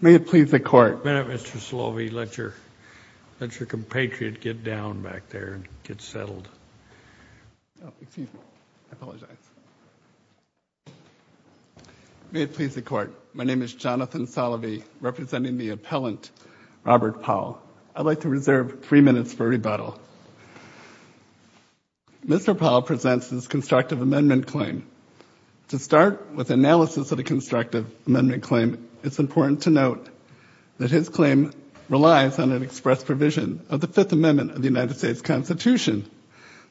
May it please the Court, Mr. Slovey, let your compatriot get down back there and get settled. May it please the Court, my name is Jonathan Slovey, representing the appellant Robert Powell. I'd like to reserve three minutes for rebuttal. Mr. Powell presents his constructive amendment claim. To start with analysis of the constructive amendment claim, it's important to note that his claim relies on an express provision of the Fifth Amendment of the United States Constitution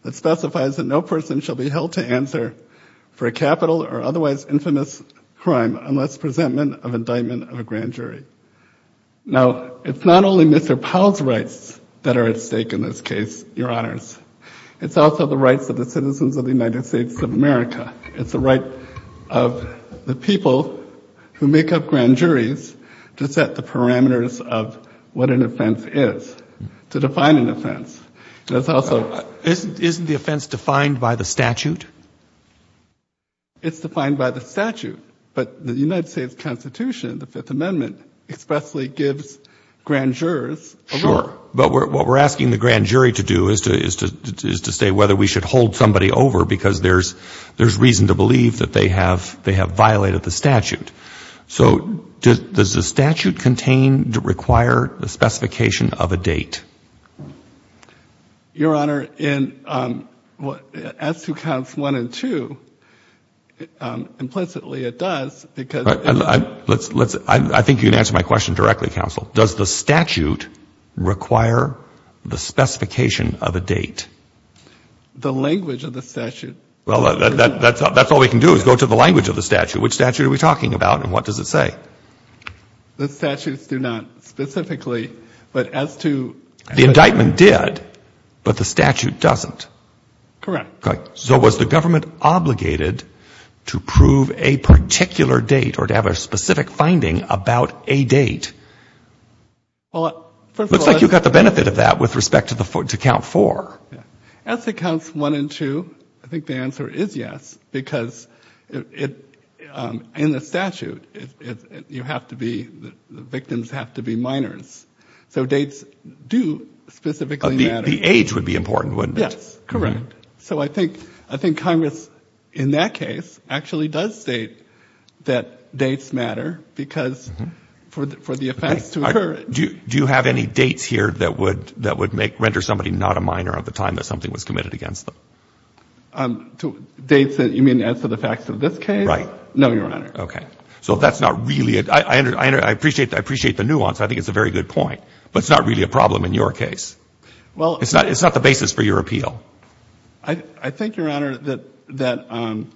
that specifies that no person shall be held to answer for a capital or otherwise infamous crime unless presentment of indictment of a grand jury. Now, it's not only Mr. Powell's rights that are at stake in this case, your honors. It's also the rights of the citizens of the United States of America. It's the right of the people who make up grand juries to set the parameters of what an offense is, to define an offense. Isn't the offense defined by the statute? It's defined by the statute. But the United States Constitution, the Fifth Amendment, expressly gives grand jurors a right. Sure. But what we're asking the grand jury to do is to say whether we should hold somebody over because there's reason to believe that they have violated the statute. So does the statute contain, require the specification of a date? Your honor, in S2 counts 1 and 2, implicitly it does because I think you can answer my question directly, counsel. Does the statute require the specification of a date? The language of the statute Well, that's all we can do is go to the language of the statute. Which statute are we talking about and what does it say? The statutes do not specifically, but as to The indictment did, but the statute doesn't. Correct. So was the government obligated to prove a particular date or to have a specific finding about a date? Well, first of all Looks like you got the benefit of that with respect to count 4. S accounts 1 and 2, I think the answer is yes, because in the statute you have to be, the victims have to be minors. So dates do specifically matter. The age would be important, wouldn't it? Yes, correct. So I think Congress in that case actually does state that dates matter because for the offense to occur Do you have any dates here that would render somebody not a minor at the time that something was committed against them? Dates, you mean as to the facts of this case? Right. No, Your Honor. Okay. So that's not really, I appreciate the nuance, I think it's a very good point, but it's not really a problem in your case. Well It's not the basis for your appeal. I think, Your Honor, that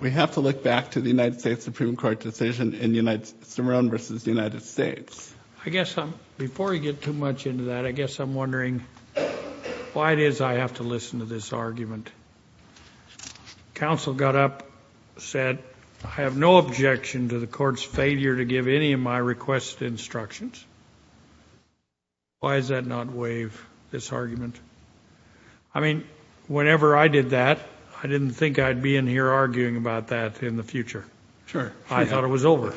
we have to look back to the United States Supreme Court decision in Cerrone v. United States. I guess, before you get too much into that, I guess I'm wondering why it is I have to listen to this argument. Counsel got up, said, I have no objection to the court's failure to give any of my requests instructions. Why does that not waive this argument? I mean, whenever I did that, I didn't think I'd be in here arguing about that in the future. Sure. I thought it was over.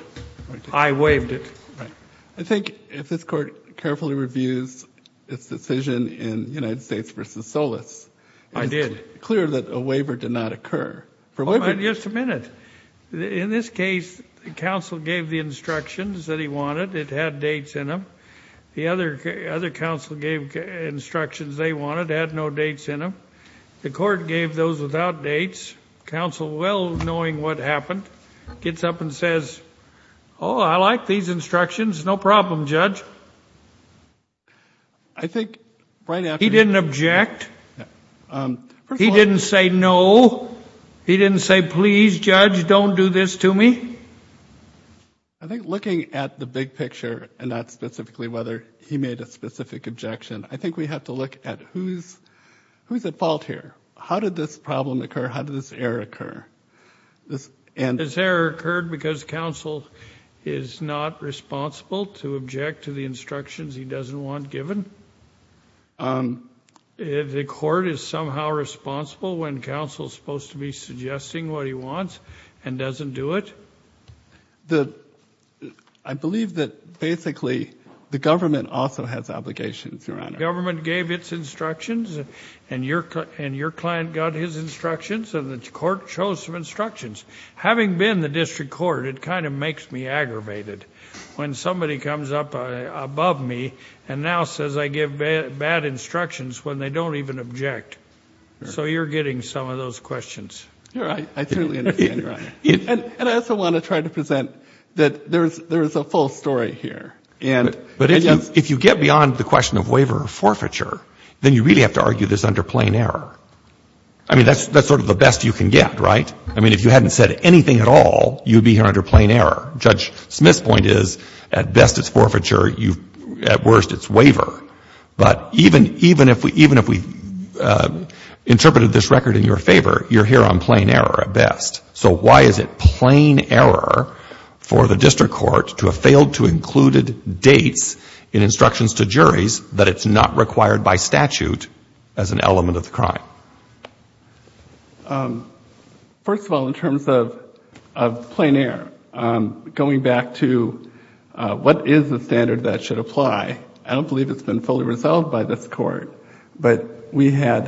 I waived it. Right. I think if this court carefully reviews its decision in United States v. Solis I did. It's clear that a waiver did not occur. Just a minute. In this case, counsel gave the instructions that he wanted, it had dates in them. The other counsel gave instructions they wanted, had no dates in them. The court gave those without dates. Counsel, well knowing what happened, gets up and says, oh, I like these instructions. No problem, Judge. I think right after... He didn't object? He didn't say no? He didn't say, please, Judge, don't do this to me? I think looking at the big picture and not specifically whether he made a specific objection, I think we have to look at who's at fault here. How did this problem occur? How did this error occur? This error occurred because counsel is not responsible to object to the instructions he doesn't want given? The court is somehow responsible when counsel is supposed to be suggesting what he wants and doesn't do it? I believe that basically the government also has obligations, Your Honor. The government gave its instructions, and your client got his instructions, and the court chose some instructions. Having been the district court, it kind of makes me aggravated when somebody comes up above me and now says I give bad instructions when they don't even object. So you're getting some of those questions. I certainly understand, Your Honor. And I also want to try to present that there is a full story here. But if you get beyond the question of waiver or forfeiture, then you really have to argue this under plain error. I mean, that's sort of the best you can get, right? I mean, if you hadn't said anything at all, you'd be here under plain error. Judge Smith's point is at best it's forfeiture, at worst it's waiver. But even if we interpreted this record in your favor, you're here on plain error at best. So why is it plain error for the district court to have failed to include dates in instructions to juries that it's not required by statute as an element of the crime? First of all, in terms of plain error, going back to what is the standard that should apply, I don't believe it's been fully resolved by this court. But we had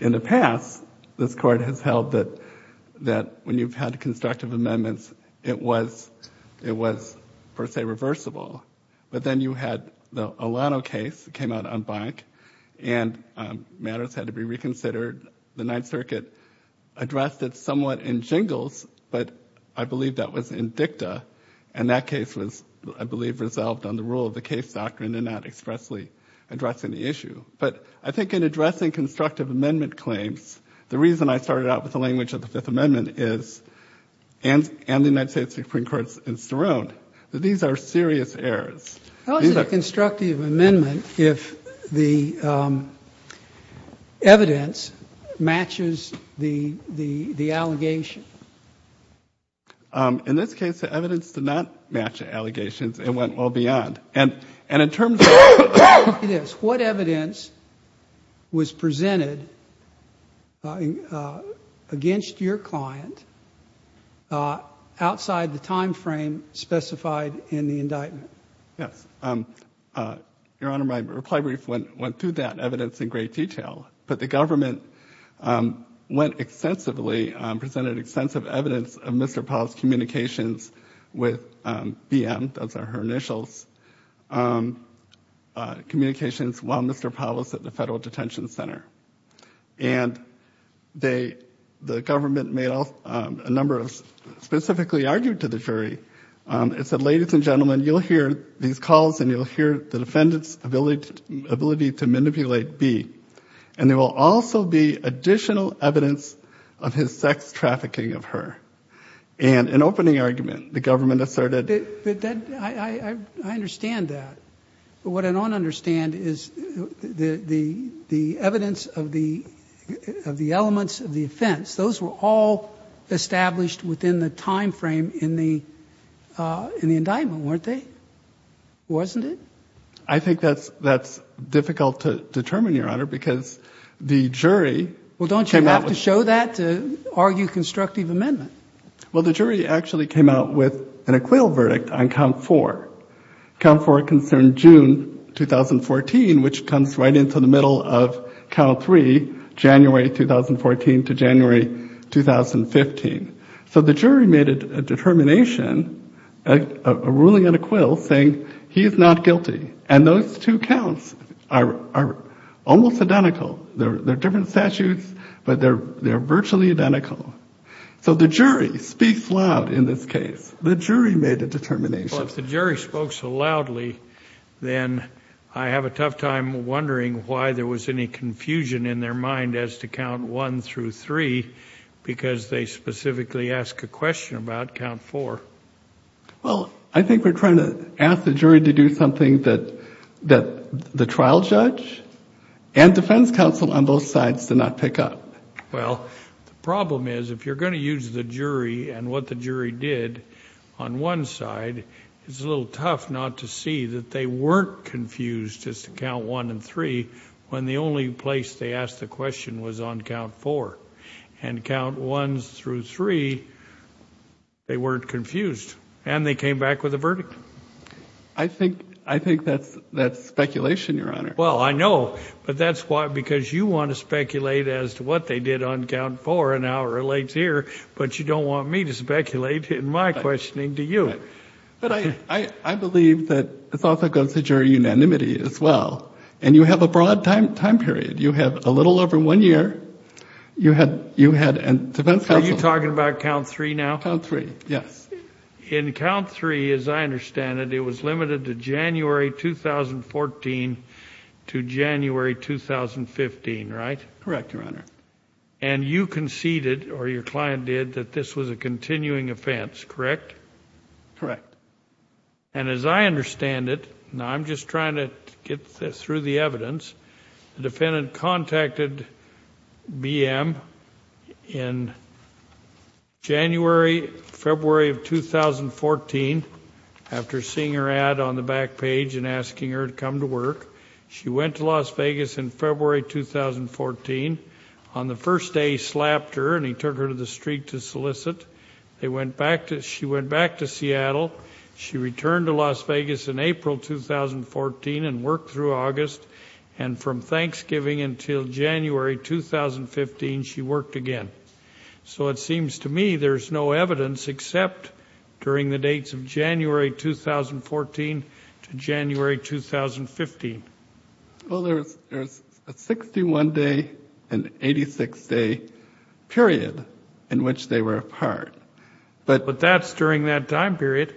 in the past, this court has held that when you've had constructive amendments, it was per se reversible. But then you had the Olano case that came out on Bank, and matters had to be reconsidered. The Ninth Circuit addressed it somewhat in jingles, but I believe that was in dicta. And that case was, I believe, resolved on the rule of the case doctrine and not expressly addressing the issue. But I think in addressing constructive amendment claims, the reason I started out with the language of the Fifth Amendment is, and the United States Supreme Court in Sterling, that these are serious errors. How is it a constructive amendment if the evidence matches the allegation? In this case, the evidence did not match the allegations. It went well beyond. And in terms of what evidence was presented against your client outside the timeframe specified in the indictment? Yes. Your Honor, my reply brief went through that evidence in great detail. But the government went extensively, presented extensive evidence of Mr. Powell's communications with BM, those are her initials, communications while Mr. Powell was at the Federal Detention Center. And the government made a number of, specifically argued to the jury, and said, and there will also be additional evidence of his sex trafficking of her. And an opening argument, the government asserted. I understand that. But what I don't understand is the evidence of the elements of the offense, those were all established within the timeframe in the indictment, weren't they? Wasn't it? I think that's difficult to determine, Your Honor, because the jury came out with. Well, don't you have to show that to argue constructive amendment? Well, the jury actually came out with an acquittal verdict on count four. Count four concerned June 2014, which comes right into the middle of count three, January 2014 to January 2015. So the jury made a determination, a ruling on acquittal, saying he is not guilty. And those two counts are almost identical. They're different statutes, but they're virtually identical. So the jury speaks loud in this case. The jury made a determination. Well, if the jury spoke so loudly, then I have a tough time wondering why there was any confusion in their mind as to count one through three because they specifically ask a question about count four. Well, I think we're trying to ask the jury to do something that the trial judge and defense counsel on both sides did not pick up. Well, the problem is if you're going to use the jury and what the jury did on one side, it's a little tough not to see that they weren't confused as to count one and three when the only place they asked the question was on count four. And count ones through three, they weren't confused, and they came back with a verdict. I think that's speculation, Your Honor. Well, I know, but that's why because you want to speculate as to what they did on count four and how it relates here, but you don't want me to speculate in my questioning, do you? But I believe that it also goes to jury unanimity as well, and you have a broad time period. You have a little over one year. Are you talking about count three now? Count three, yes. In count three, as I understand it, it was limited to January 2014 to January 2015, right? Correct, Your Honor. And you conceded, or your client did, that this was a continuing offense, correct? Correct. And as I understand it, and I'm just trying to get through the evidence, the defendant contacted BM in January, February of 2014 after seeing her ad on the back page and asking her to come to work. She went to Las Vegas in February 2014. On the first day, he slapped her, and he took her to the street to solicit. She went back to Seattle. She returned to Las Vegas in April 2014 and worked through August, and from Thanksgiving until January 2015, she worked again. So it seems to me there's no evidence except during the dates of January 2014 to January 2015. Well, there's a 61-day and 86-day period in which they were apart. But that's during that time period.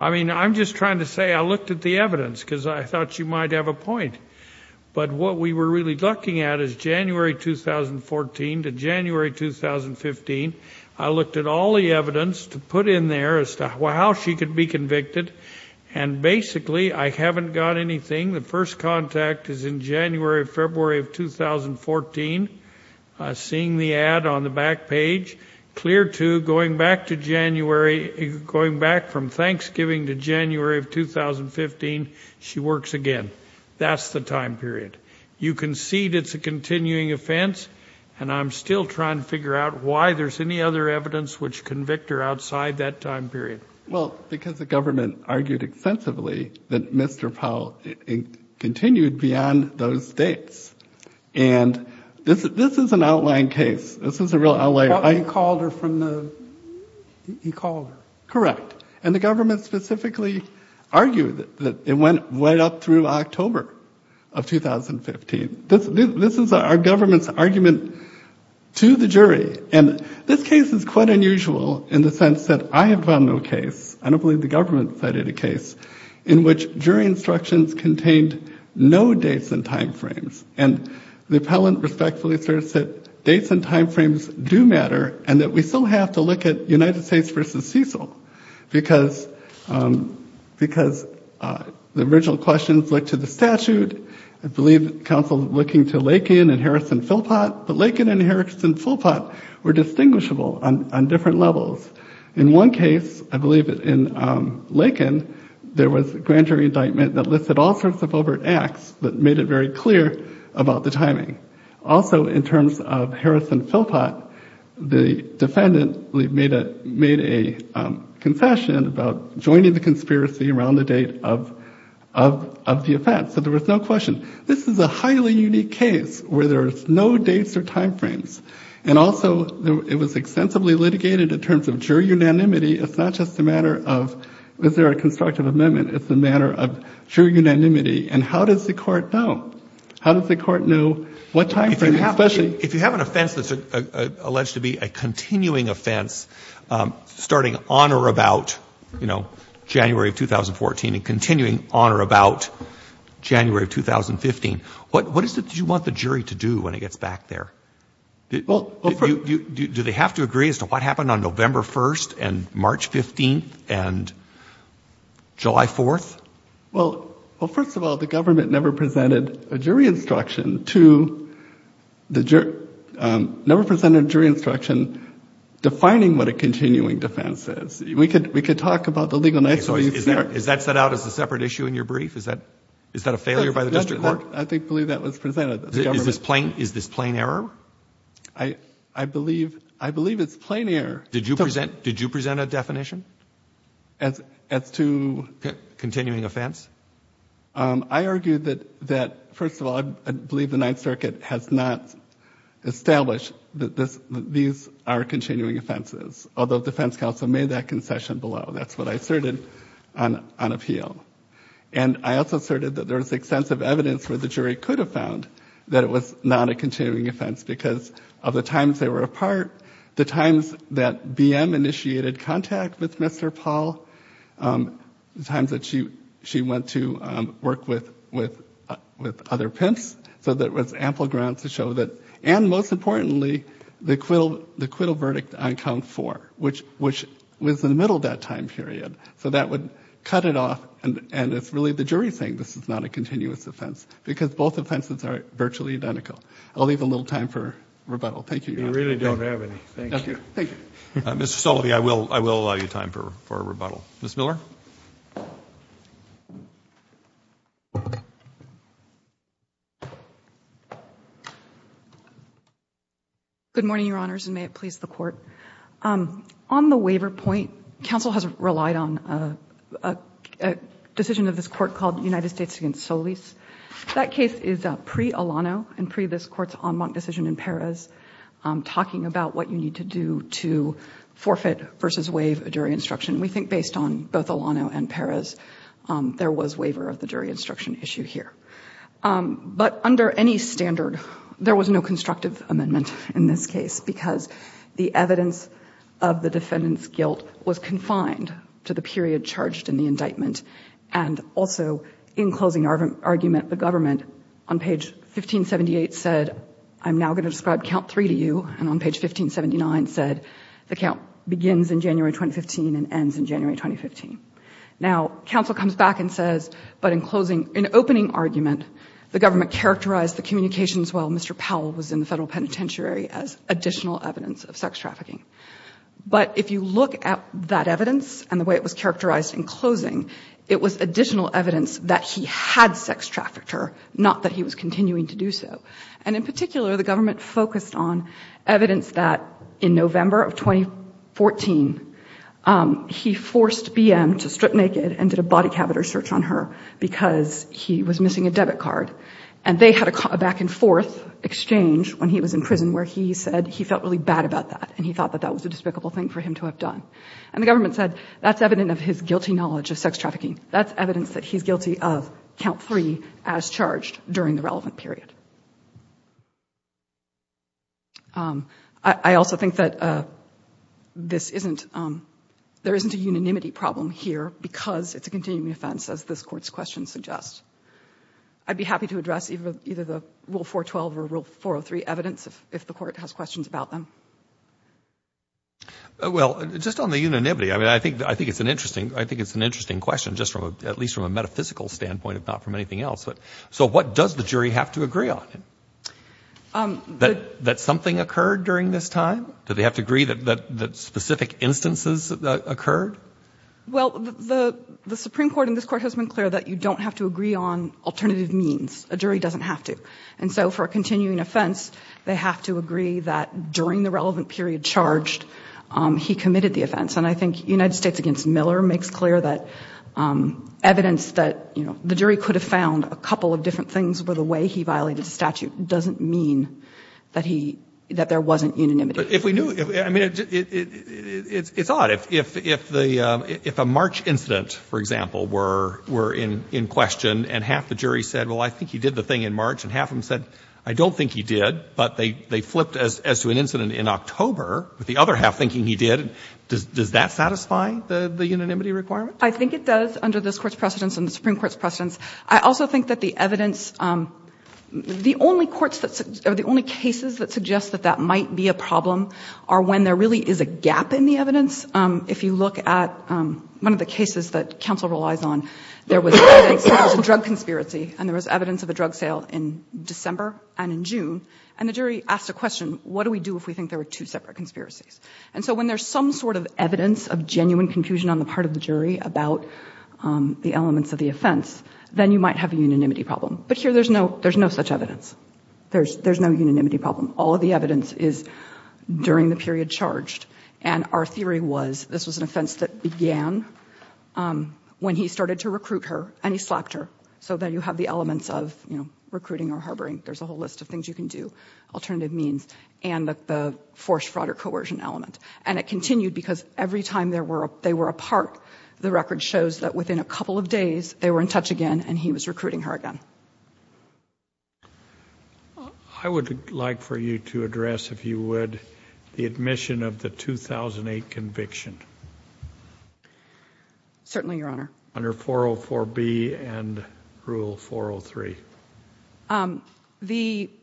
I mean, I'm just trying to say I looked at the evidence because I thought you might have a point. But what we were really looking at is January 2014 to January 2015. I looked at all the evidence to put in there as to how she could be convicted, and basically I haven't got anything. The first contact is in January, February of 2014, seeing the ad on the back page, clear to going back from Thanksgiving to January of 2015, she works again. That's the time period. You concede it's a continuing offense, and I'm still trying to figure out why there's any other evidence which convict her outside that time period. Well, because the government argued extensively that Mr. Powell continued beyond those dates. And this is an outline case. This is a real outline. He called her from the he called her. Correct. And the government specifically argued that it went right up through October of 2015. This is our government's argument to the jury. And this case is quite unusual in the sense that I have found no case, I don't believe the government cited a case, in which jury instructions contained no dates and time frames. And the appellant respectfully asserts that dates and time frames do matter and that we still have to look at United States versus Cecil because because the original questions look to the statute. I believe counsel looking to Lake and Harrison Philpot, but Lincoln and Harrison Philpot were distinguishable on different levels. In one case, I believe it in Lincoln. There was a grand jury indictment that listed all sorts of overt acts that made it very clear about the timing. Also, in terms of Harrison Philpot, the defendant made a made a confession about joining the conspiracy around the date of of of the event. So there was no question. This is a highly unique case where there's no dates or time frames. And also it was extensively litigated in terms of jury unanimity. It's not just a matter of is there a constructive amendment? It's a matter of jury unanimity. And how does the court know? How does the court know what time? Especially if you have an offense that's alleged to be a continuing offense starting on or about, you know, January of 2014 and continuing on or about January of 2015. What is it that you want the jury to do when it gets back there? Well, do they have to agree as to what happened on November 1st and March 15th and July 4th? Well, well, first of all, the government never presented a jury instruction to the jury, never presented a jury instruction defining what a continuing defense is. We could we could talk about the legal. So is that is that set out as a separate issue in your brief? Is that is that a failure by the district court? I think that was presented. Is this plain? Is this plain error? I I believe I believe it's plain error. Did you present did you present a definition? As as to continuing offense. I argue that that first of all, I believe the Ninth Circuit has not established that this these are continuing offenses, although the defense counsel made that concession below. That's what I asserted on on appeal. And I also asserted that there is extensive evidence where the jury could have found that it was not a continuing offense because of the times they were apart, the times that BM initiated contact with Mr. Paul, the times that she she went to work with with with other pimps. So that was ample ground to show that. And most importantly, the acquittal, the acquittal verdict on count for which which was in the middle of that time period. So that would cut it off. And it's really the jury saying this is not a continuous offense because both offenses are virtually identical. I'll leave a little time for rebuttal. Thank you. You really don't have any. Thank you. Thank you, Mr. Sullivan. I will I will allow you time for a rebuttal. Miss Miller. Good morning, Your Honors, and may it please the court. On the waiver point, counsel has relied on a decision of this court called the United States against Solis. That case is a pre Alano and pre this court's decision in Paris talking about what you need to do to forfeit versus waive a jury instruction. We think based on both Alano and Paris, there was waiver of the jury instruction issue here. But under any standard, there was no constructive amendment in this case because the evidence of the defendant's guilt was confined to the period charged in the indictment. And also in closing argument, the government on page 1578 said, I'm now going to describe count three to you. And on page 1579 said the count begins in January 2015 and ends in January 2015. Now, counsel comes back and says, but in closing an opening argument, the government characterized the communications while Mr. Powell was in the federal penitentiary as additional evidence of sex trafficking. But if you look at that evidence and the way it was characterized in closing, it was additional evidence that he had sex trafficked her, not that he was continuing to do so. And in particular, the government focused on evidence that in November of 2014, he forced BM to strip naked and did a body cabinet search on her because he was missing a debit card. And they had a back and forth exchange when he was in prison where he said he felt really bad about that and he thought that that was a despicable thing for him to have done. And the government said that's evident of his guilty knowledge of sex trafficking. That's evidence that he's guilty of count three as charged during the relevant period. I also think that this isn't there isn't a unanimity problem here because it's a continuing offense, as this court's question suggests. I'd be happy to address either the Rule 412 or Rule 403 evidence if the court has questions about them. Well, just on the unanimity, I mean, I think it's an interesting question just from at least from a metaphysical standpoint, if not from anything else. So what does the jury have to agree on? That something occurred during this time? Do they have to agree that specific instances occurred? Well, the Supreme Court in this court has been clear that you don't have to agree on alternative means. A jury doesn't have to. And so for a continuing offense, they have to agree that during the relevant period charged, he committed the offense. And I think United States v. Miller makes clear that evidence that the jury could have found a couple of different things for the way he violated the statute doesn't mean that there wasn't unanimity. But if we knew, I mean, it's odd. If a March incident, for example, were in question and half the jury said, well, I think he did the thing in March, and half of them said, I don't think he did, but they flipped as to an incident in October with the other half thinking he did, does that satisfy the unanimity requirement? I think it does under this Court's precedence and the Supreme Court's precedence. I also think that the evidence, the only courts, or the only cases that suggest that that might be a problem are when there really is a gap in the evidence. If you look at one of the cases that counsel relies on, there was evidence of a drug conspiracy, and there was evidence of a drug sale in December and in June. And the jury asked a question, what do we do if we think there were two separate conspiracies? And so when there's some sort of evidence of genuine confusion on the part of the jury about the elements of the offense, then you might have a unanimity problem. But here there's no such evidence. There's no unanimity problem. All of the evidence is during the period charged. And our theory was this was an offense that began when he started to recruit her, and he slapped her. So then you have the elements of recruiting or harboring. There's a whole list of things you can do, alternative means, and the forced fraud or coercion element. And it continued because every time they were apart, the record shows that within a couple of days they were in touch again and he was recruiting her again. I would like for you to address, if you would, the admission of the 2008 conviction. Certainly, Your Honor. Under 404B and Rule 403.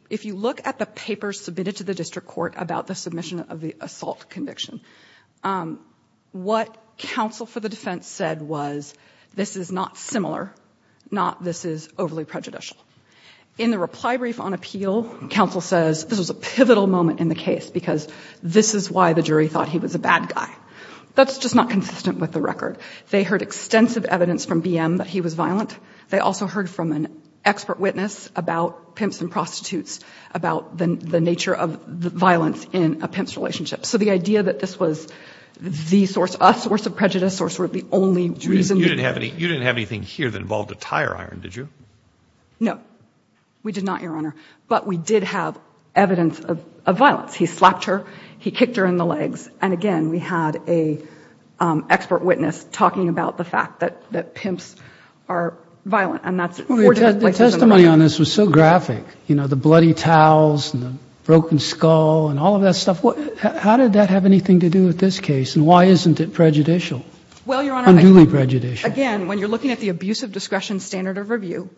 If you look at the papers submitted to the district court about the submission of the assault conviction, what counsel for the defense said was this is not similar, not this is overly prejudicial. In the reply brief on appeal, counsel says this was a pivotal moment in the case because this is why the jury thought he was a bad guy. That's just not consistent with the record. They heard extensive evidence from BM that he was violent. They also heard from an expert witness about pimps and prostitutes, about the nature of the violence in a pimp's relationship. So the idea that this was the source, a source of prejudice, or sort of the only reason. You didn't have anything here that involved a tire iron, did you? No, we did not, Your Honor. But we did have evidence of violence. He slapped her. He kicked her in the legs. And again, we had an expert witness talking about the fact that pimps are violent. And that's four different places in the record. The testimony on this was so graphic. You know, the bloody towels and the broken skull and all of that stuff. How did that have anything to do with this case? And why isn't it prejudicial? Unduly prejudicial. Well, Your Honor, again, when you're looking at the abuse of discretion standard of review,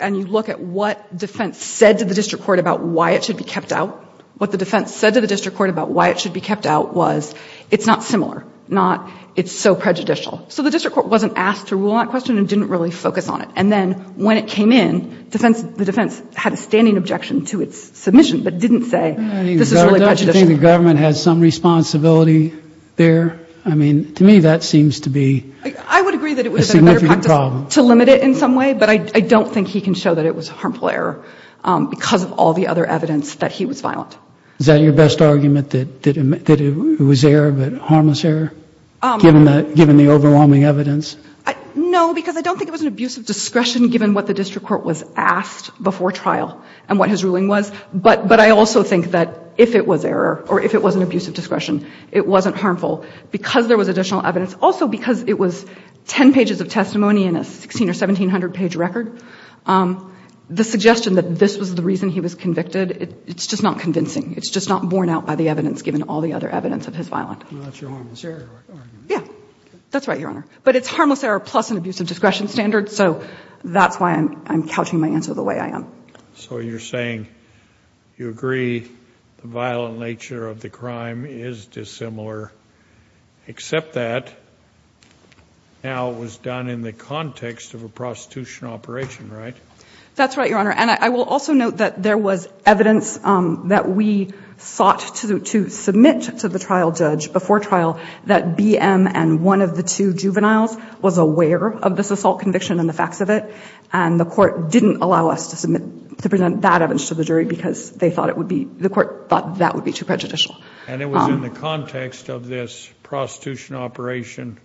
and you look at what defense said to the district court about why it should be kept out, what the defense said to the district court about why it should be kept out was it's not similar, not it's so prejudicial. So the district court wasn't asked to rule on that question and didn't really focus on it. And then when it came in, the defense had a standing objection to its submission, but didn't say this is really prejudicial. I mean, doesn't the government have some responsibility there? I mean, to me, that seems to be a significant problem. I would agree that it would have been a better practice to limit it in some way, but I don't think he can show that it was a harmful error because of all the other evidence that he was violent. Is that your best argument, that it was error but harmless error, given the overwhelming evidence? No, because I don't think it was an abuse of discretion given what the district court was asked before trial and what his ruling was. But I also think that if it was error or if it was an abuse of discretion, it wasn't harmful because there was additional evidence. Also because it was 10 pages of testimony in a 1,600 or 1,700-page record, the suggestion that this was the reason he was convicted, it's just not convincing. It's just not borne out by the evidence given all the other evidence of his violence. Well, that's your harmless error argument. Yeah, that's right, Your Honor. But it's harmless error plus an abuse of discretion standard, so that's why I'm couching my answer the way I am. So you're saying you agree the violent nature of the crime is dissimilar, except that now it was done in the context of a prostitution operation, right? That's right, Your Honor. And I will also note that there was evidence that we sought to submit to the trial judge before trial that BM and one of the two juveniles was aware of this assault conviction and the facts of it, and the court didn't allow us to present that evidence to the jury because the court thought that would be too prejudicial. And it was in the context of this prostitution operation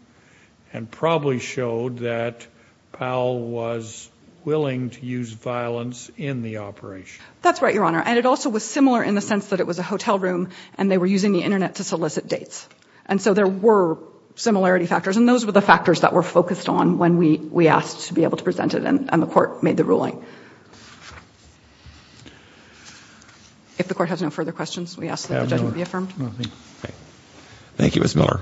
and probably showed that Powell was willing to use violence in the operation. That's right, Your Honor. And it also was similar in the sense that it was a hotel room and they were using the Internet to solicit dates. And so there were similarity factors, and those were the factors that were focused on when we asked to be able to present it, and the court made the ruling. If the court has no further questions, we ask that the judgment be affirmed. Thank you, Ms. Miller.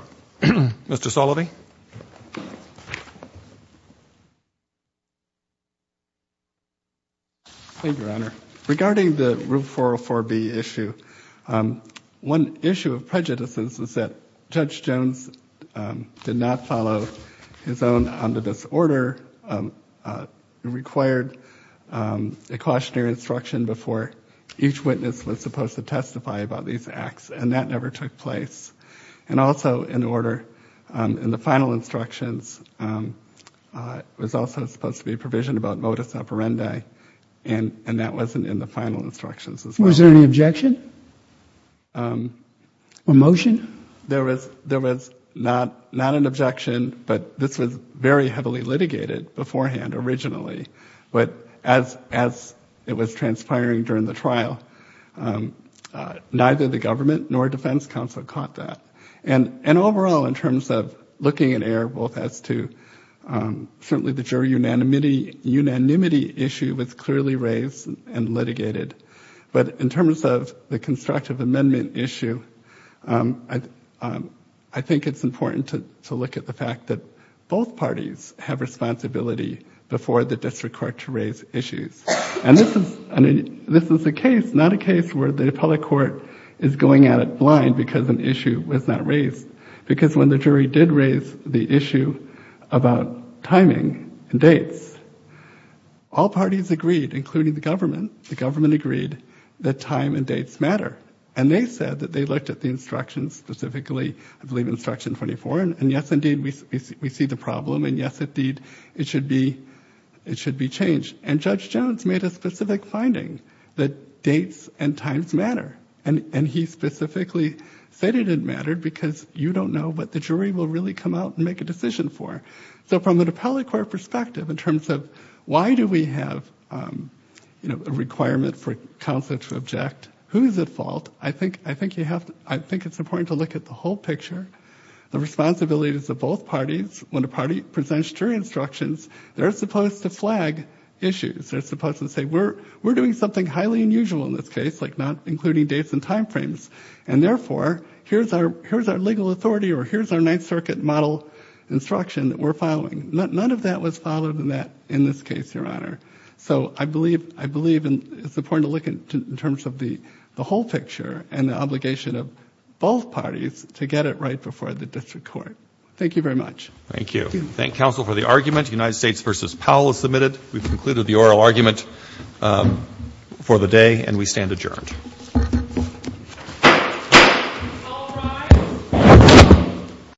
Thank you, Your Honor. Regarding the Rule 404B issue, one issue of prejudice was that Judge Jones did not follow his own omnibus order. It required a cautionary instruction before each witness was supposed to testify about these acts, and that never took place. And also, in order, in the final instructions, it was also supposed to be a provision about modus operandi, and that wasn't in the final instructions as well. Was there any objection or motion? There was not an objection, but this was very heavily litigated beforehand, originally. But as it was transpiring during the trial, neither the government nor defense counsel caught that. And overall, in terms of looking at error, certainly the juror unanimity issue was clearly raised and litigated. But in terms of the constructive amendment issue, I think it's important to look at the fact that both parties have responsibility before the district court to raise issues. And this is a case, not a case, where the appellate court is going at it blind because an issue was not raised. Because when the jury did raise the issue about timing and dates, all parties agreed, including the government, the government agreed that time and dates matter. And they said that they looked at the instructions, specifically, I believe, Instruction 24, and yes, indeed, we see the problem, and yes, indeed, it should be changed. And Judge Jones made a specific finding that dates and times matter. And he specifically stated it mattered because you don't know what the jury will really come out and make a decision for. So from an appellate court perspective, in terms of why do we have a requirement for counsel to object, who is at fault, I think it's important to look at the whole picture. The responsibilities of both parties, when a party presents jury instructions, they're supposed to flag issues. They're supposed to say we're doing something highly unusual in this case, like not including dates and time frames, and therefore, here's our legal authority or here's our Ninth Circuit model instruction that we're following. None of that was followed in this case, Your Honor. So I believe it's important to look in terms of the whole picture and the obligation of both parties to get it right before the district court. Thank you very much. Thank you. Thank counsel for the argument. United States v. Powell is submitted. We've concluded the oral argument for the day, and we stand adjourned. All rise.